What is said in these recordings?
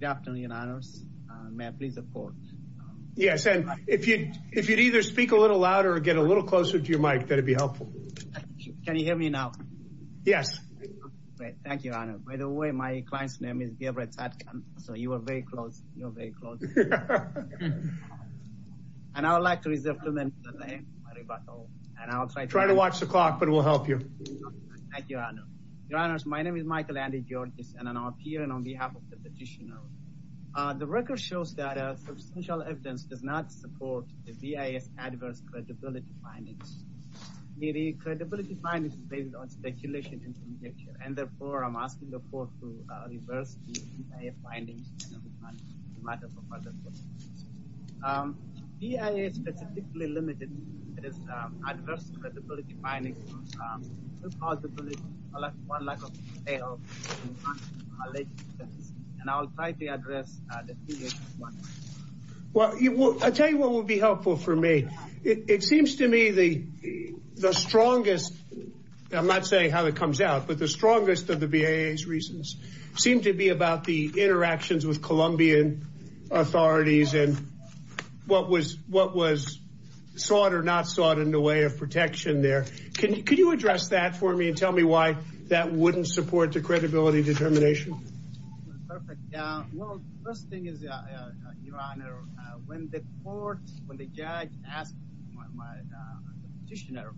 Good afternoon, Your Honors. May I please report? Yes, and if you'd either speak a little louder or get a little closer to your mic, that'd be helpful. Can you hear me now? Great. Thank you, Your Honor. By the way, my client's name is Gebretadkan, so you are very close. You are very close. And I would like to reserve too many of the names for my rebuttal. Try to watch the clock, but we'll help you. Thank you, Your Honor. Your Honors, my name is Michael Andy Georges, and I'm appearing on behalf of the petitioner. The record shows that substantial evidence does not support the BIA's adverse credibility findings. The credibility findings are based on speculation and conjecture, and therefore I'm asking the court to reverse the BIA findings. BIA is specifically limited to its adverse credibility findings. There's a possibility of one lack of detail, and I'll try to address the BIA's findings. Well, I'll tell you what would be helpful for me. It seems to me the strongest, I'm not saying how it comes out, but the strongest of the BIA's reasons seem to be about the interactions with Colombian authorities and what was sought or not sought in the way of protection there. Can you address that for me and tell me why that wouldn't support the credibility determination? Well, first thing is, Your Honor, when the court, when the judge asked my petitioner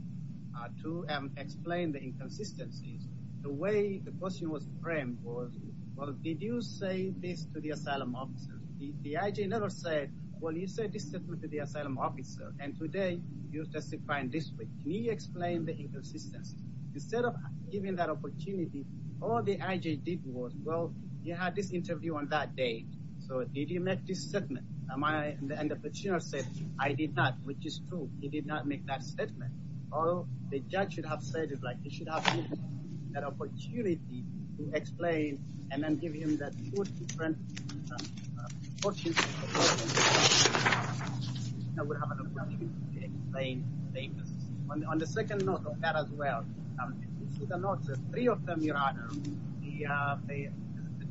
to explain the inconsistencies, the way the question was framed was, well, did you say this to the asylum officer? The IJ never said, well, you said this to the asylum officer, and today you're testifying this way. Can you explain the inconsistencies? Instead of giving that opportunity, all the IJ did was, well, you had this interview on that day, so did you make this statement? And the petitioner said, I did not, which is true. He did not make that statement. Although the judge should have said it, like, he should have given him that opportunity to explain and then give him that two different portions of evidence that would have an opportunity to explain the inconsistencies. On the second note of that as well, you should have noted three of them, Your Honor, the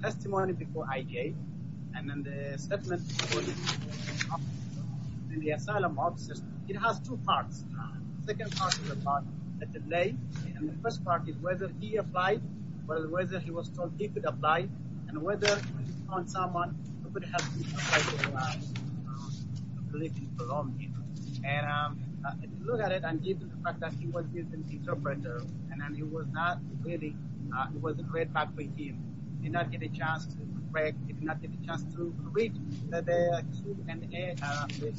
testimony before IJ and then the statement before the asylum officer. It has two parts. The second part is about the delay, and the first part is whether he applied, whether he was told he could apply, and whether he found someone who could help him apply to live in Colombia. And if you look at it, and given the fact that he was an interpreter and he was not ready, it was a great bad for him. He did not get a chance to correct. He did not get a chance to read the Q&A with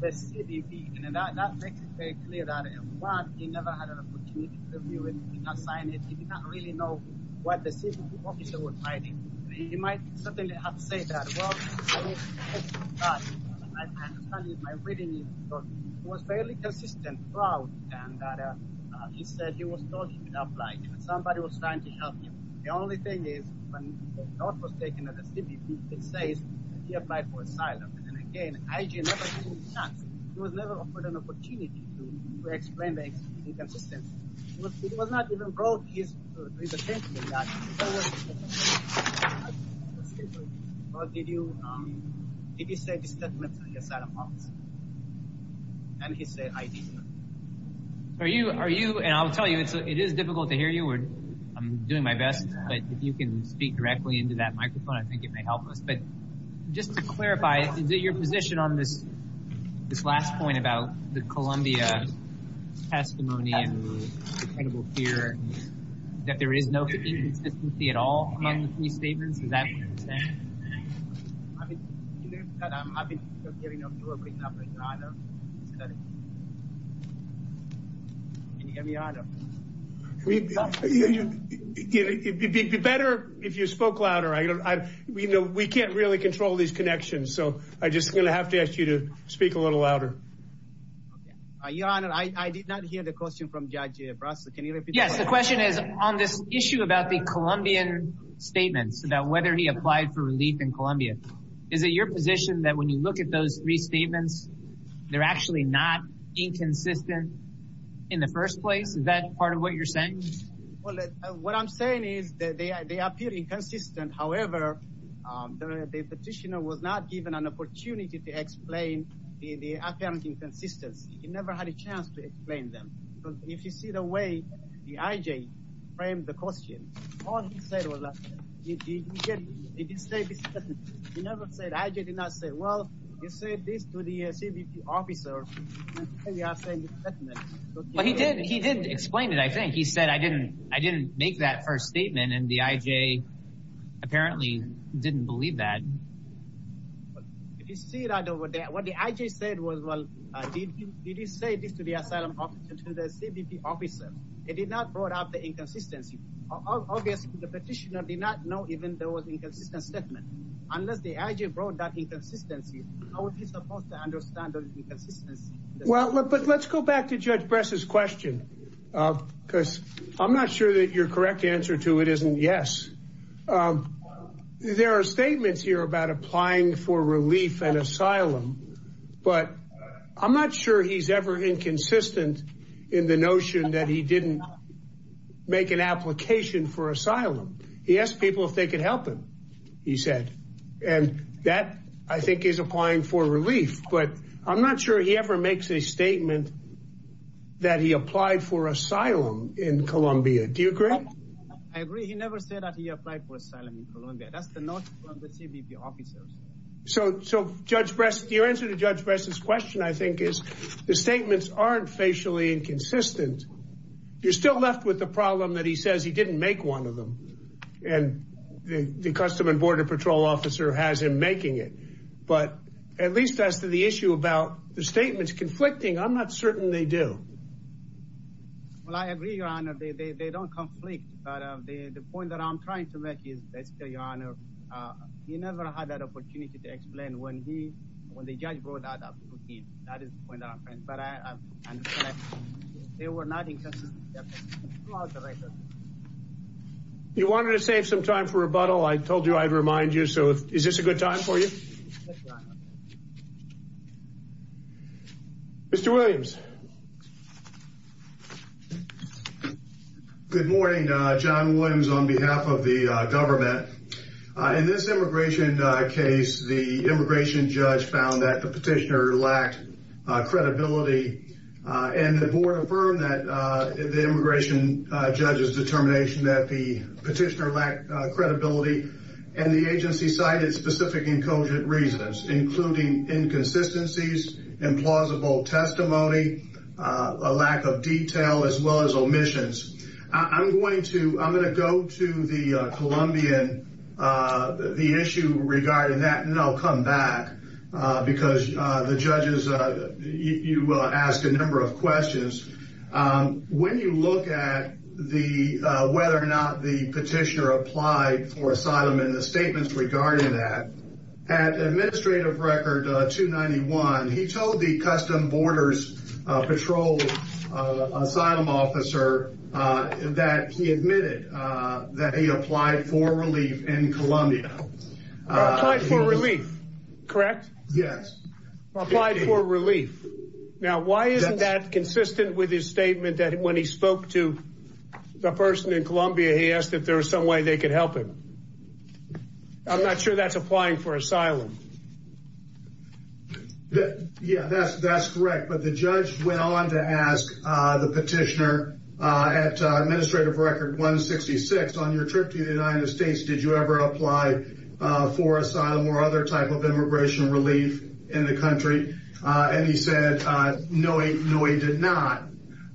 the CBP. And that makes it very clear that, one, he never had an opportunity to review it. He did not sign it. He did not really know what the CBP officer was writing. He might certainly have to say that. Well, I understand that my reading is that he was fairly consistent throughout, and that he said he was told he could apply. Somebody was trying to help him. The only thing is when the note was taken at the CBP, it says that he applied for asylum. And again, IJ never gave him a chance. He was never offered an opportunity to explain the inconsistencies. He was not even brought to his attention. But did he say this statement to the asylum office? And he said, I did not. Are you – and I'll tell you, it is difficult to hear you. I'm doing my best, but if you can speak directly into that microphone, I think it may help us. But just to clarify, is it your position on this last point about the Columbia testimony and the credible fear, that there is no inconsistency at all among the three statements? I mean, do you think that I'm having hearing of you or bringing up your honor? Can you hear me, your honor? It would be better if you spoke louder. We can't really control these connections, so I'm just going to have to ask you to speak a little louder. Your honor, I did not hear the question from Judge Brasler. Can you repeat that? Yes, the question is on this issue about the Columbian statements, about whether he applied for relief in Columbia. Is it your position that when you look at those three statements, they're actually not inconsistent in the first place? Is that part of what you're saying? Well, what I'm saying is that they appear inconsistent. However, the petitioner was not given an opportunity to explain the apparent inconsistency. He never had a chance to explain them. If you see the way the I.J. framed the question, all he said was that he didn't say this. He never said, I.J. did not say, well, he said this to the CBP officer. He didn't explain it, I think. He said, I didn't make that first statement, and the I.J. apparently didn't believe that. If you see that over there, what the I.J. said was, well, did he say this to the asylum officer, to the CBP officer? He did not bring up the inconsistency. Obviously, the petitioner did not know even though it was an inconsistent statement. Unless the I.J. brought that inconsistency, how was he supposed to understand the inconsistency? Well, but let's go back to Judge Brasler's question, because I'm not sure that your correct answer to it isn't yes. There are statements here about applying for relief and asylum, but I'm not sure he's ever inconsistent in the notion that he didn't make an application for asylum. He asked people if they could help him, he said, and that, I think, is applying for relief. But I'm not sure he ever makes a statement that he applied for asylum in Colombia. Do you agree? I agree. He never said that he applied for asylum in Colombia. That's the notion from the CBP officers. So, Judge Brasler, your answer to Judge Brasler's question, I think, is the statements aren't facially inconsistent. You're still left with the problem that he says he didn't make one of them, and the Customs and Border Patrol officer has him making it. But at least as to the issue about the statements conflicting, I'm not certain they do. Well, I agree, Your Honor. They don't conflict. But the point that I'm trying to make is, basically, Your Honor, he never had that opportunity to explain when the judge brought that up. That is the point that I'm trying to make. But I understand they were not inconsistent. You wanted to save some time for rebuttal. I told you I'd remind you, so is this a good time for you? Yes, Your Honor. Mr. Williams. Good morning. John Williams on behalf of the government. In this immigration case, the immigration judge found that the petitioner lacked credibility, and the board affirmed that the immigration judge's determination that the petitioner lacked credibility, and the agency cited specific incogent reasons, including inconsistencies, implausible testimony, a lack of detail, as well as omissions. I'm going to go to the Columbian, the issue regarding that, and then I'll come back, because the judges, you asked a number of questions. When you look at whether or not the petitioner applied for asylum and the statements regarding that, at Administrative Record 291, he told the Custom Borders Patrol asylum officer that he admitted that he applied for relief in Columbia. Applied for relief, correct? Yes. Applied for relief. Now, why isn't that consistent with his statement that when he spoke to the person in Columbia, he asked if there was some way they could help him? I'm not sure that's applying for asylum. Yeah, that's correct, but the judge went on to ask the petitioner at Administrative Record 166, on your trip to the United States, did you ever apply for asylum or other type of immigration relief in the country? And he said, no, he did not.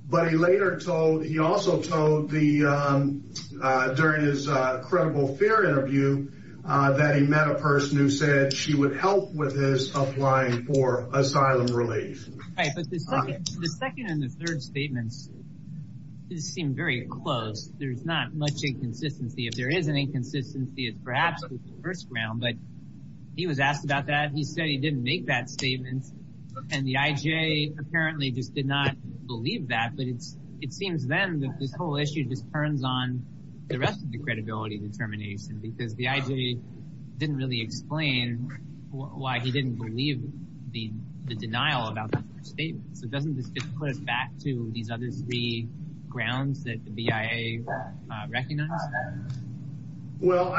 But he later told, he also told during his credible fear interview that he met a person who said she would help with his applying for asylum relief. Right, but the second and the third statements seem very close. There's not much inconsistency. If there is any inconsistency, it's perhaps the first round, but he was asked about that. He said he didn't make that statement, and the IJ apparently just did not believe that. But it seems then that this whole issue just turns on the rest of the credibility determination, because the IJ didn't really explain why he didn't believe the denial about the first statement. So doesn't this just put us back to these other three grounds that the BIA recognized? Well,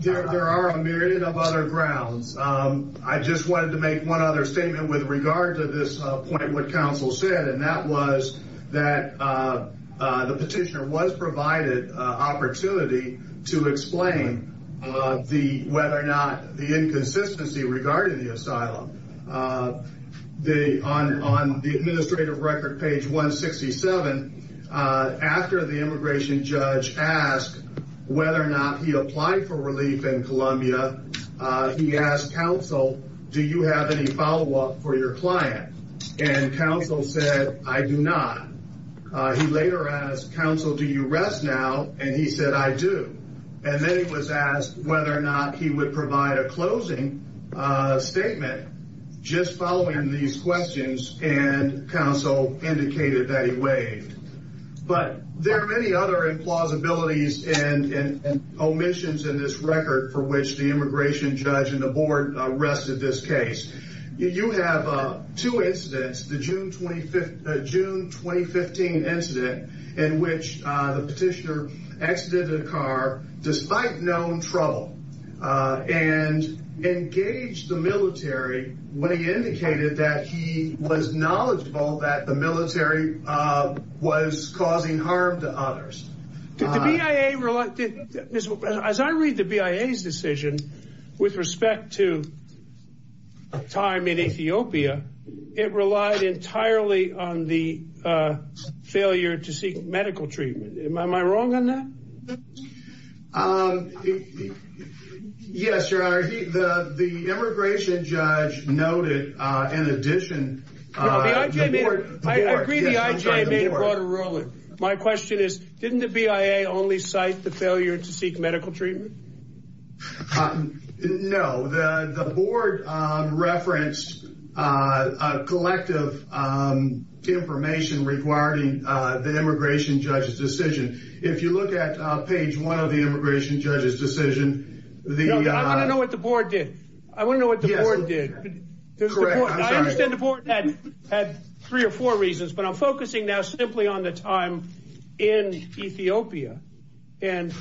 there are a myriad of other grounds. I just wanted to make one other statement with regard to this point what counsel said, and that was that the petitioner was provided opportunity to explain whether or not the inconsistency regarding the asylum. On the administrative record, page 167, after the immigration judge asked whether or not he applied for relief in Columbia, he asked counsel, do you have any follow-up for your client? And counsel said, I do not. He later asked counsel, do you rest now? And he said, I do. And then he was asked whether or not he would provide a closing statement just following these questions, and counsel indicated that he waived. But there are many other implausibilities and omissions in this record for which the immigration judge and the board arrested this case. You have two incidents, the June 2015 incident in which the petitioner exited a car despite known trouble and engaged the military when he indicated that he was knowledgeable that the military was causing harm to others. As I read the BIA's decision with respect to time in Ethiopia, it relied entirely on the failure to seek medical treatment. Am I wrong on that? Yes, Your Honor. The immigration judge noted in addition. I agree the IJ made a broader ruling. My question is, didn't the BIA only cite the failure to seek medical treatment? No, the board referenced collective information regarding the immigration judge's decision. If you look at page one of the immigration judge's decision. I want to know what the board did. I want to know what the board did. I understand the board had three or four reasons, but I'm focusing now simply on the time in Ethiopia. And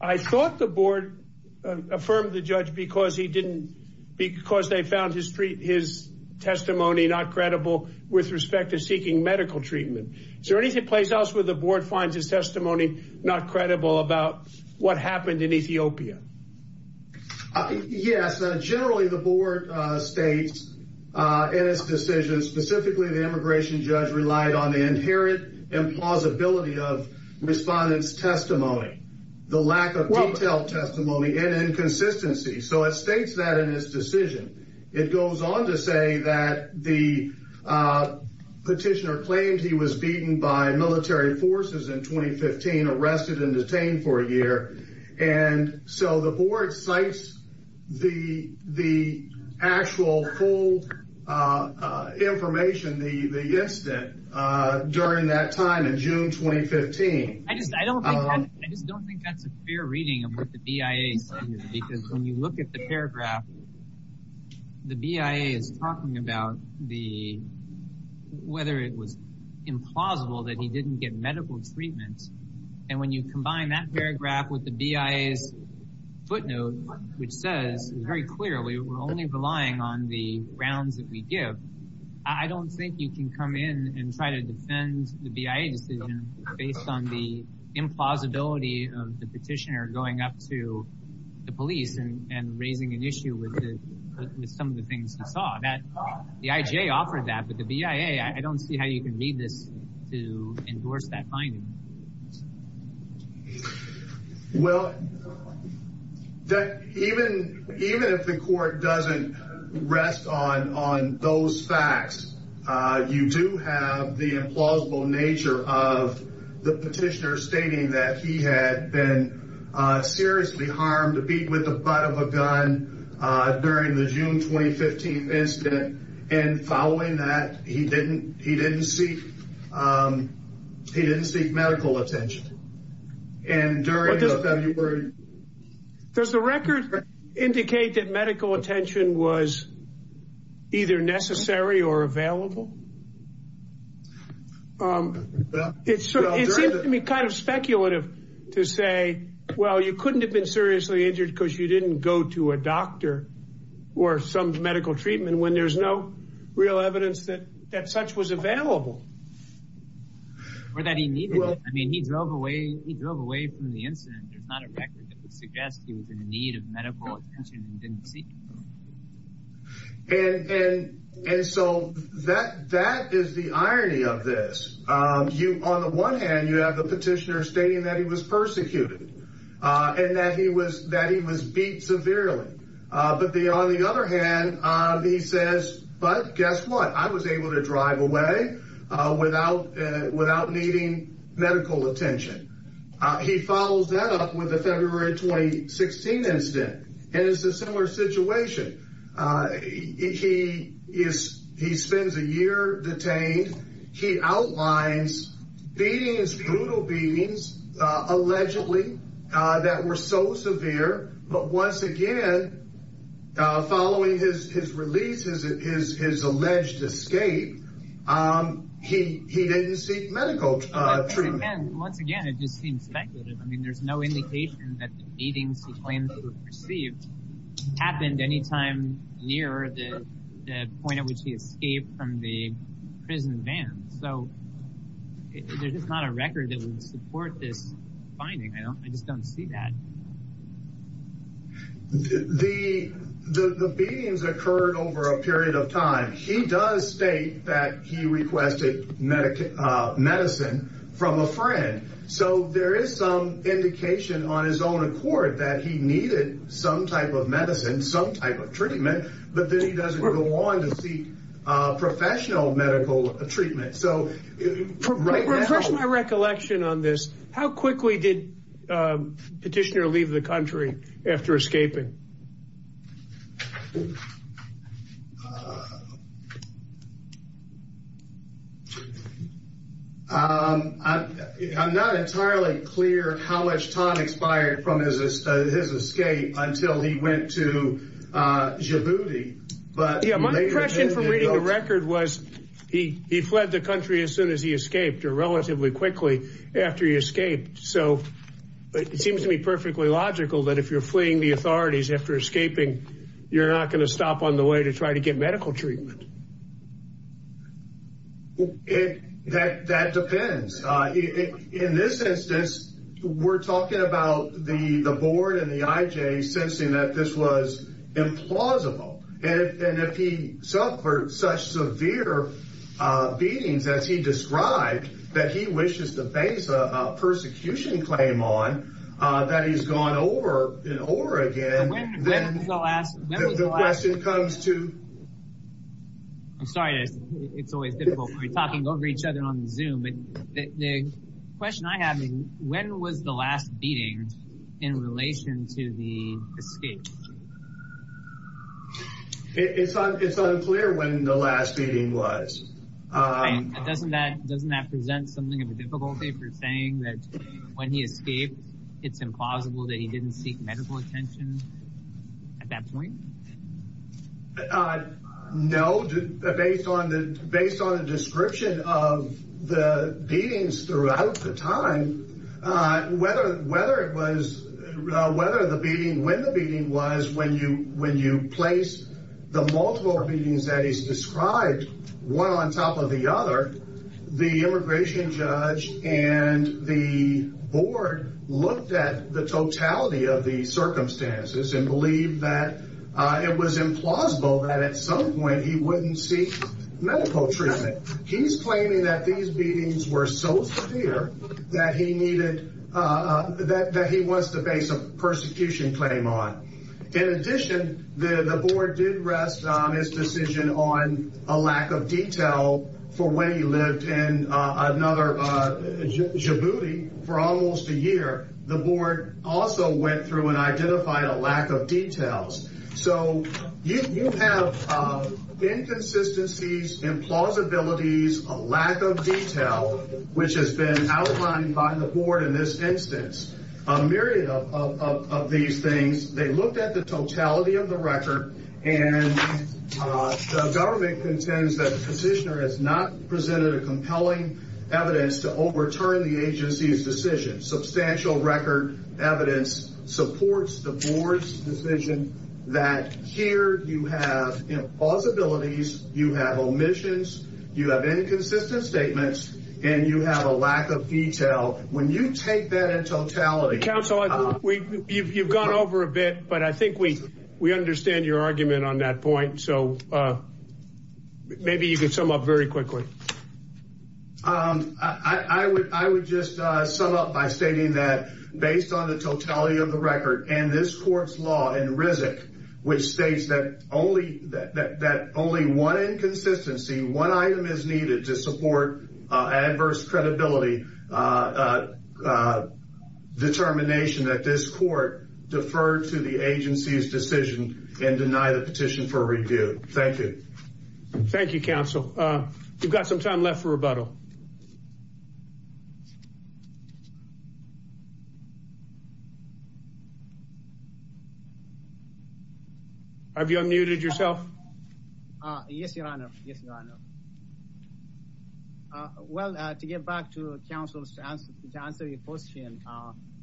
I thought the board affirmed the judge because they found his testimony not credible with respect to seeking medical treatment. Is there any place else where the board finds his testimony not credible about what happened in Ethiopia? Yes. Generally, the board states in its decision. Specifically, the immigration judge relied on the inherent implausibility of respondents' testimony, the lack of detailed testimony and inconsistency. So it states that in this decision. It goes on to say that the petitioner claimed he was beaten by military forces in 2015, arrested and detained for a year. And so the board cites the actual full information, the incident, during that time in June 2015. I just don't think that's a clear reading of what the BIA said. Because when you look at the paragraph, the BIA is talking about whether it was implausible that he didn't get medical treatment. And when you combine that paragraph with the BIA's footnote, which says very clearly we're only relying on the grounds that we give. I don't think you can come in and try to defend the BIA decision based on the implausibility of the petitioner going up to the police and raising an issue with some of the things he saw. The IJ offered that, but the BIA, I don't see how you can read this to endorse that finding. Well, even if the court doesn't rest on those facts, you do have the implausible nature of the petitioner stating that he had been seriously harmed, beaten with the butt of a gun during the June 2015 incident. And following that, he didn't seek medical attention. Does the record indicate that medical attention was either necessary or available? It seems to me kind of speculative to say, well, you couldn't have been seriously injured because you didn't go to a doctor or some medical treatment when there's no real evidence that such was available. Or that he needed it. I mean, he drove away from the incident. There's not a record that would suggest he was in need of medical attention and didn't seek it. And and and so that that is the irony of this. You on the one hand, you have the petitioner stating that he was persecuted and that he was that he was beat severely. But the on the other hand, he says, but guess what? I was able to drive away without without needing medical attention. He follows that up with the February 2016 incident. And it's a similar situation. He is he spends a year detained. He outlines beatings, brutal beatings, allegedly that were so severe. But once again, following his his releases, his alleged escape, he he didn't seek medical treatment. And once again, it just seems speculative. I mean, there's no indication that the beatings he claims to have received happened any time near the point at which he escaped from the prison van. So there's not a record that would support this finding. I don't I just don't see that. The the beatings occurred over a period of time. He does state that he requested medical medicine from a friend. So there is some indication on his own accord that he needed some type of medicine, some type of treatment. But then he doesn't want to seek professional medical treatment. So right now, my recollection on this, how quickly did Petitioner leave the country after escaping? I'm not entirely clear how much time expired from his escape until he went to Djibouti. But my impression from reading the record was he he fled the country as soon as he escaped or relatively quickly after he escaped. So it seems to me perfectly logical that if you're fleeing the authorities after escaping, you're not going to stop on the way to try to get medical treatment. Well, it that that depends. In this instance, we're talking about the the board and the IJ sensing that this was implausible. And if he suffered such severe beatings, as he described, that he wishes to face a persecution claim on that, he's gone over in Oregon. The last question comes to. I'm sorry, it's always difficult when we're talking over each other on Zoom. But the question I have is when was the last beating in relation to the escape? It's unclear when the last meeting was. Doesn't that doesn't that present something of a difficulty for saying that when he escaped, it's implausible that he didn't seek medical attention at that point? No. Based on the based on a description of the beatings throughout the time, whether whether it was whether the beating when the beating was, when you when you place the multiple beatings that he's described one on top of the other, the immigration judge and the board looked at the totality of the circumstances and believed that it was implausible that at some point he wouldn't seek medical treatment. He's claiming that these beatings were so severe that he needed that that he wants to face a persecution claim on. In addition, the board did rest on his decision on a lack of detail for when he lived and another booty for almost a year. The board also went through and identified a lack of details. So you have inconsistencies, implausibilities, a lack of detail, which has been outlined by the board in this instance, a myriad of these things. They looked at the totality of the record and the government contends that the petitioner has not presented a compelling evidence to overturn the agency's decision. Substantial record evidence supports the board's decision that here you have possibilities, you have omissions, you have inconsistent statements and you have a lack of detail. When you take that in totality, counsel, we've you've gone over a bit, but I think we we understand your argument on that point. So maybe you can sum up very quickly. I would I would just sum up by stating that based on the totality of the record and this court's law in Rizk, which states that only that only one inconsistency, one item is needed to support adverse credibility determination that this court deferred to the agency's decision and deny the petition for review. Thank you. Thank you, counsel. We've got some time left for rebuttal. Have you unmuted yourself? Yes, Your Honor. Yes, Your Honor. Well, to get back to counsel's chance to answer your question,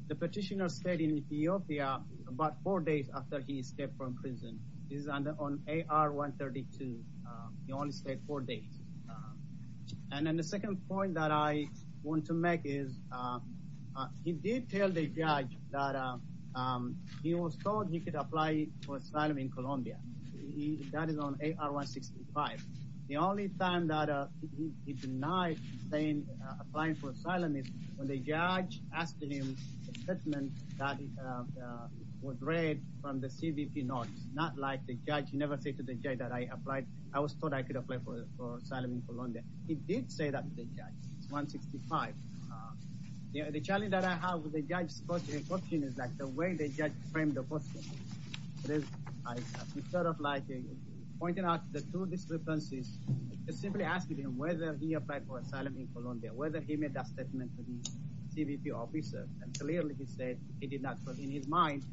the petitioner stayed in Ethiopia about four days after he escaped from prison. He's on AR 132. He only stayed four days. And then the second point that I want to make is he did tell the judge that he was told he could apply for asylum in Colombia. That is on AR 165. The only time that he denied applying for asylum is when the judge asked him a statement that was read from the CVP notes. Not like the judge never said to the judge that I applied. I was told I could apply for asylum in Colombia. He did say that to the judge. It's 165. The challenge that I have with the judge's question is like the way the judge framed the question. It is sort of like pointing out the two discrepancies, simply asking him whether he applied for asylum in Colombia, whether he made that statement to the CVP officer. And clearly he said he did not. But in his mind,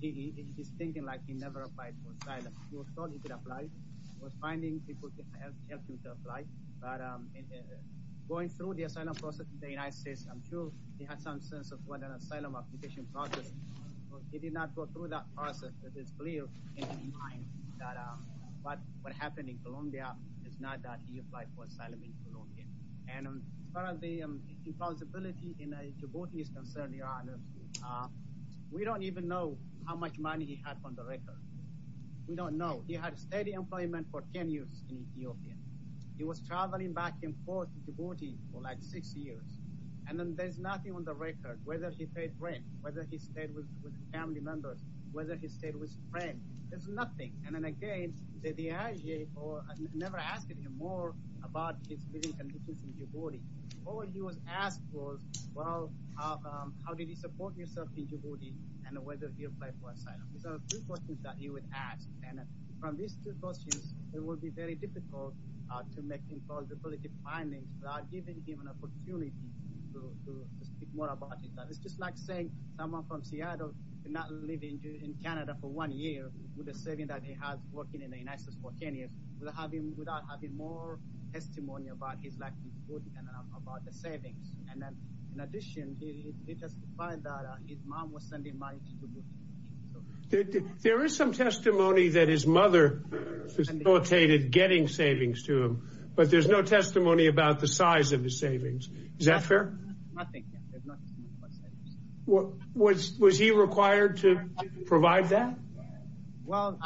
he is thinking like he never applied for asylum. He was told he could apply. He was finding people to help him to apply. Going through the asylum process in the United States, I'm sure he had some sense of what an asylum application process was. He did not go through that process. It is clear in his mind that what happened in Colombia is not that he applied for asylum in Colombia. And as far as the impossibility in Djibouti is concerned, Your Honor, we don't even know how much money he had on the record. We don't know. He had steady employment for 10 years in Ethiopia. He was traveling back and forth to Djibouti for like six years. And then there's nothing on the record, whether he paid rent, whether he stayed with family members, whether he stayed with friends. There's nothing. And then again, the DIJ never asked him more about his living conditions in Djibouti. All he was asked was, well, how did you support yourself in Djibouti and whether you applied for asylum. These are three questions that he was asked. And from these two questions, it will be very difficult to make implausible findings without giving him an opportunity to speak more about it. It's just like saying someone from Seattle did not live in Canada for one year with the savings that he had working in the United States for 10 years, without having more testimony about his life in Djibouti and about the savings. In addition, he testified that his mom was sending money to Djibouti. There is some testimony that his mother facilitated getting savings to him, but there's no testimony about the size of the savings. Is that fair? Nothing. Was he required to provide that? Well,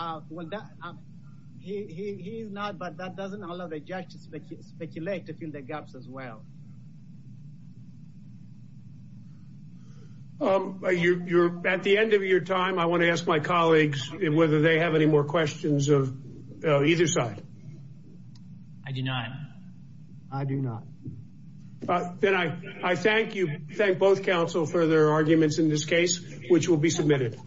he's not, but that doesn't allow the judge to speculate, to fill the gaps as well. You're at the end of your time. I want to ask my colleagues whether they have any more questions of either side. I do not. I do not. Then I thank you, thank both counsel for their arguments in this case, which will be submitted.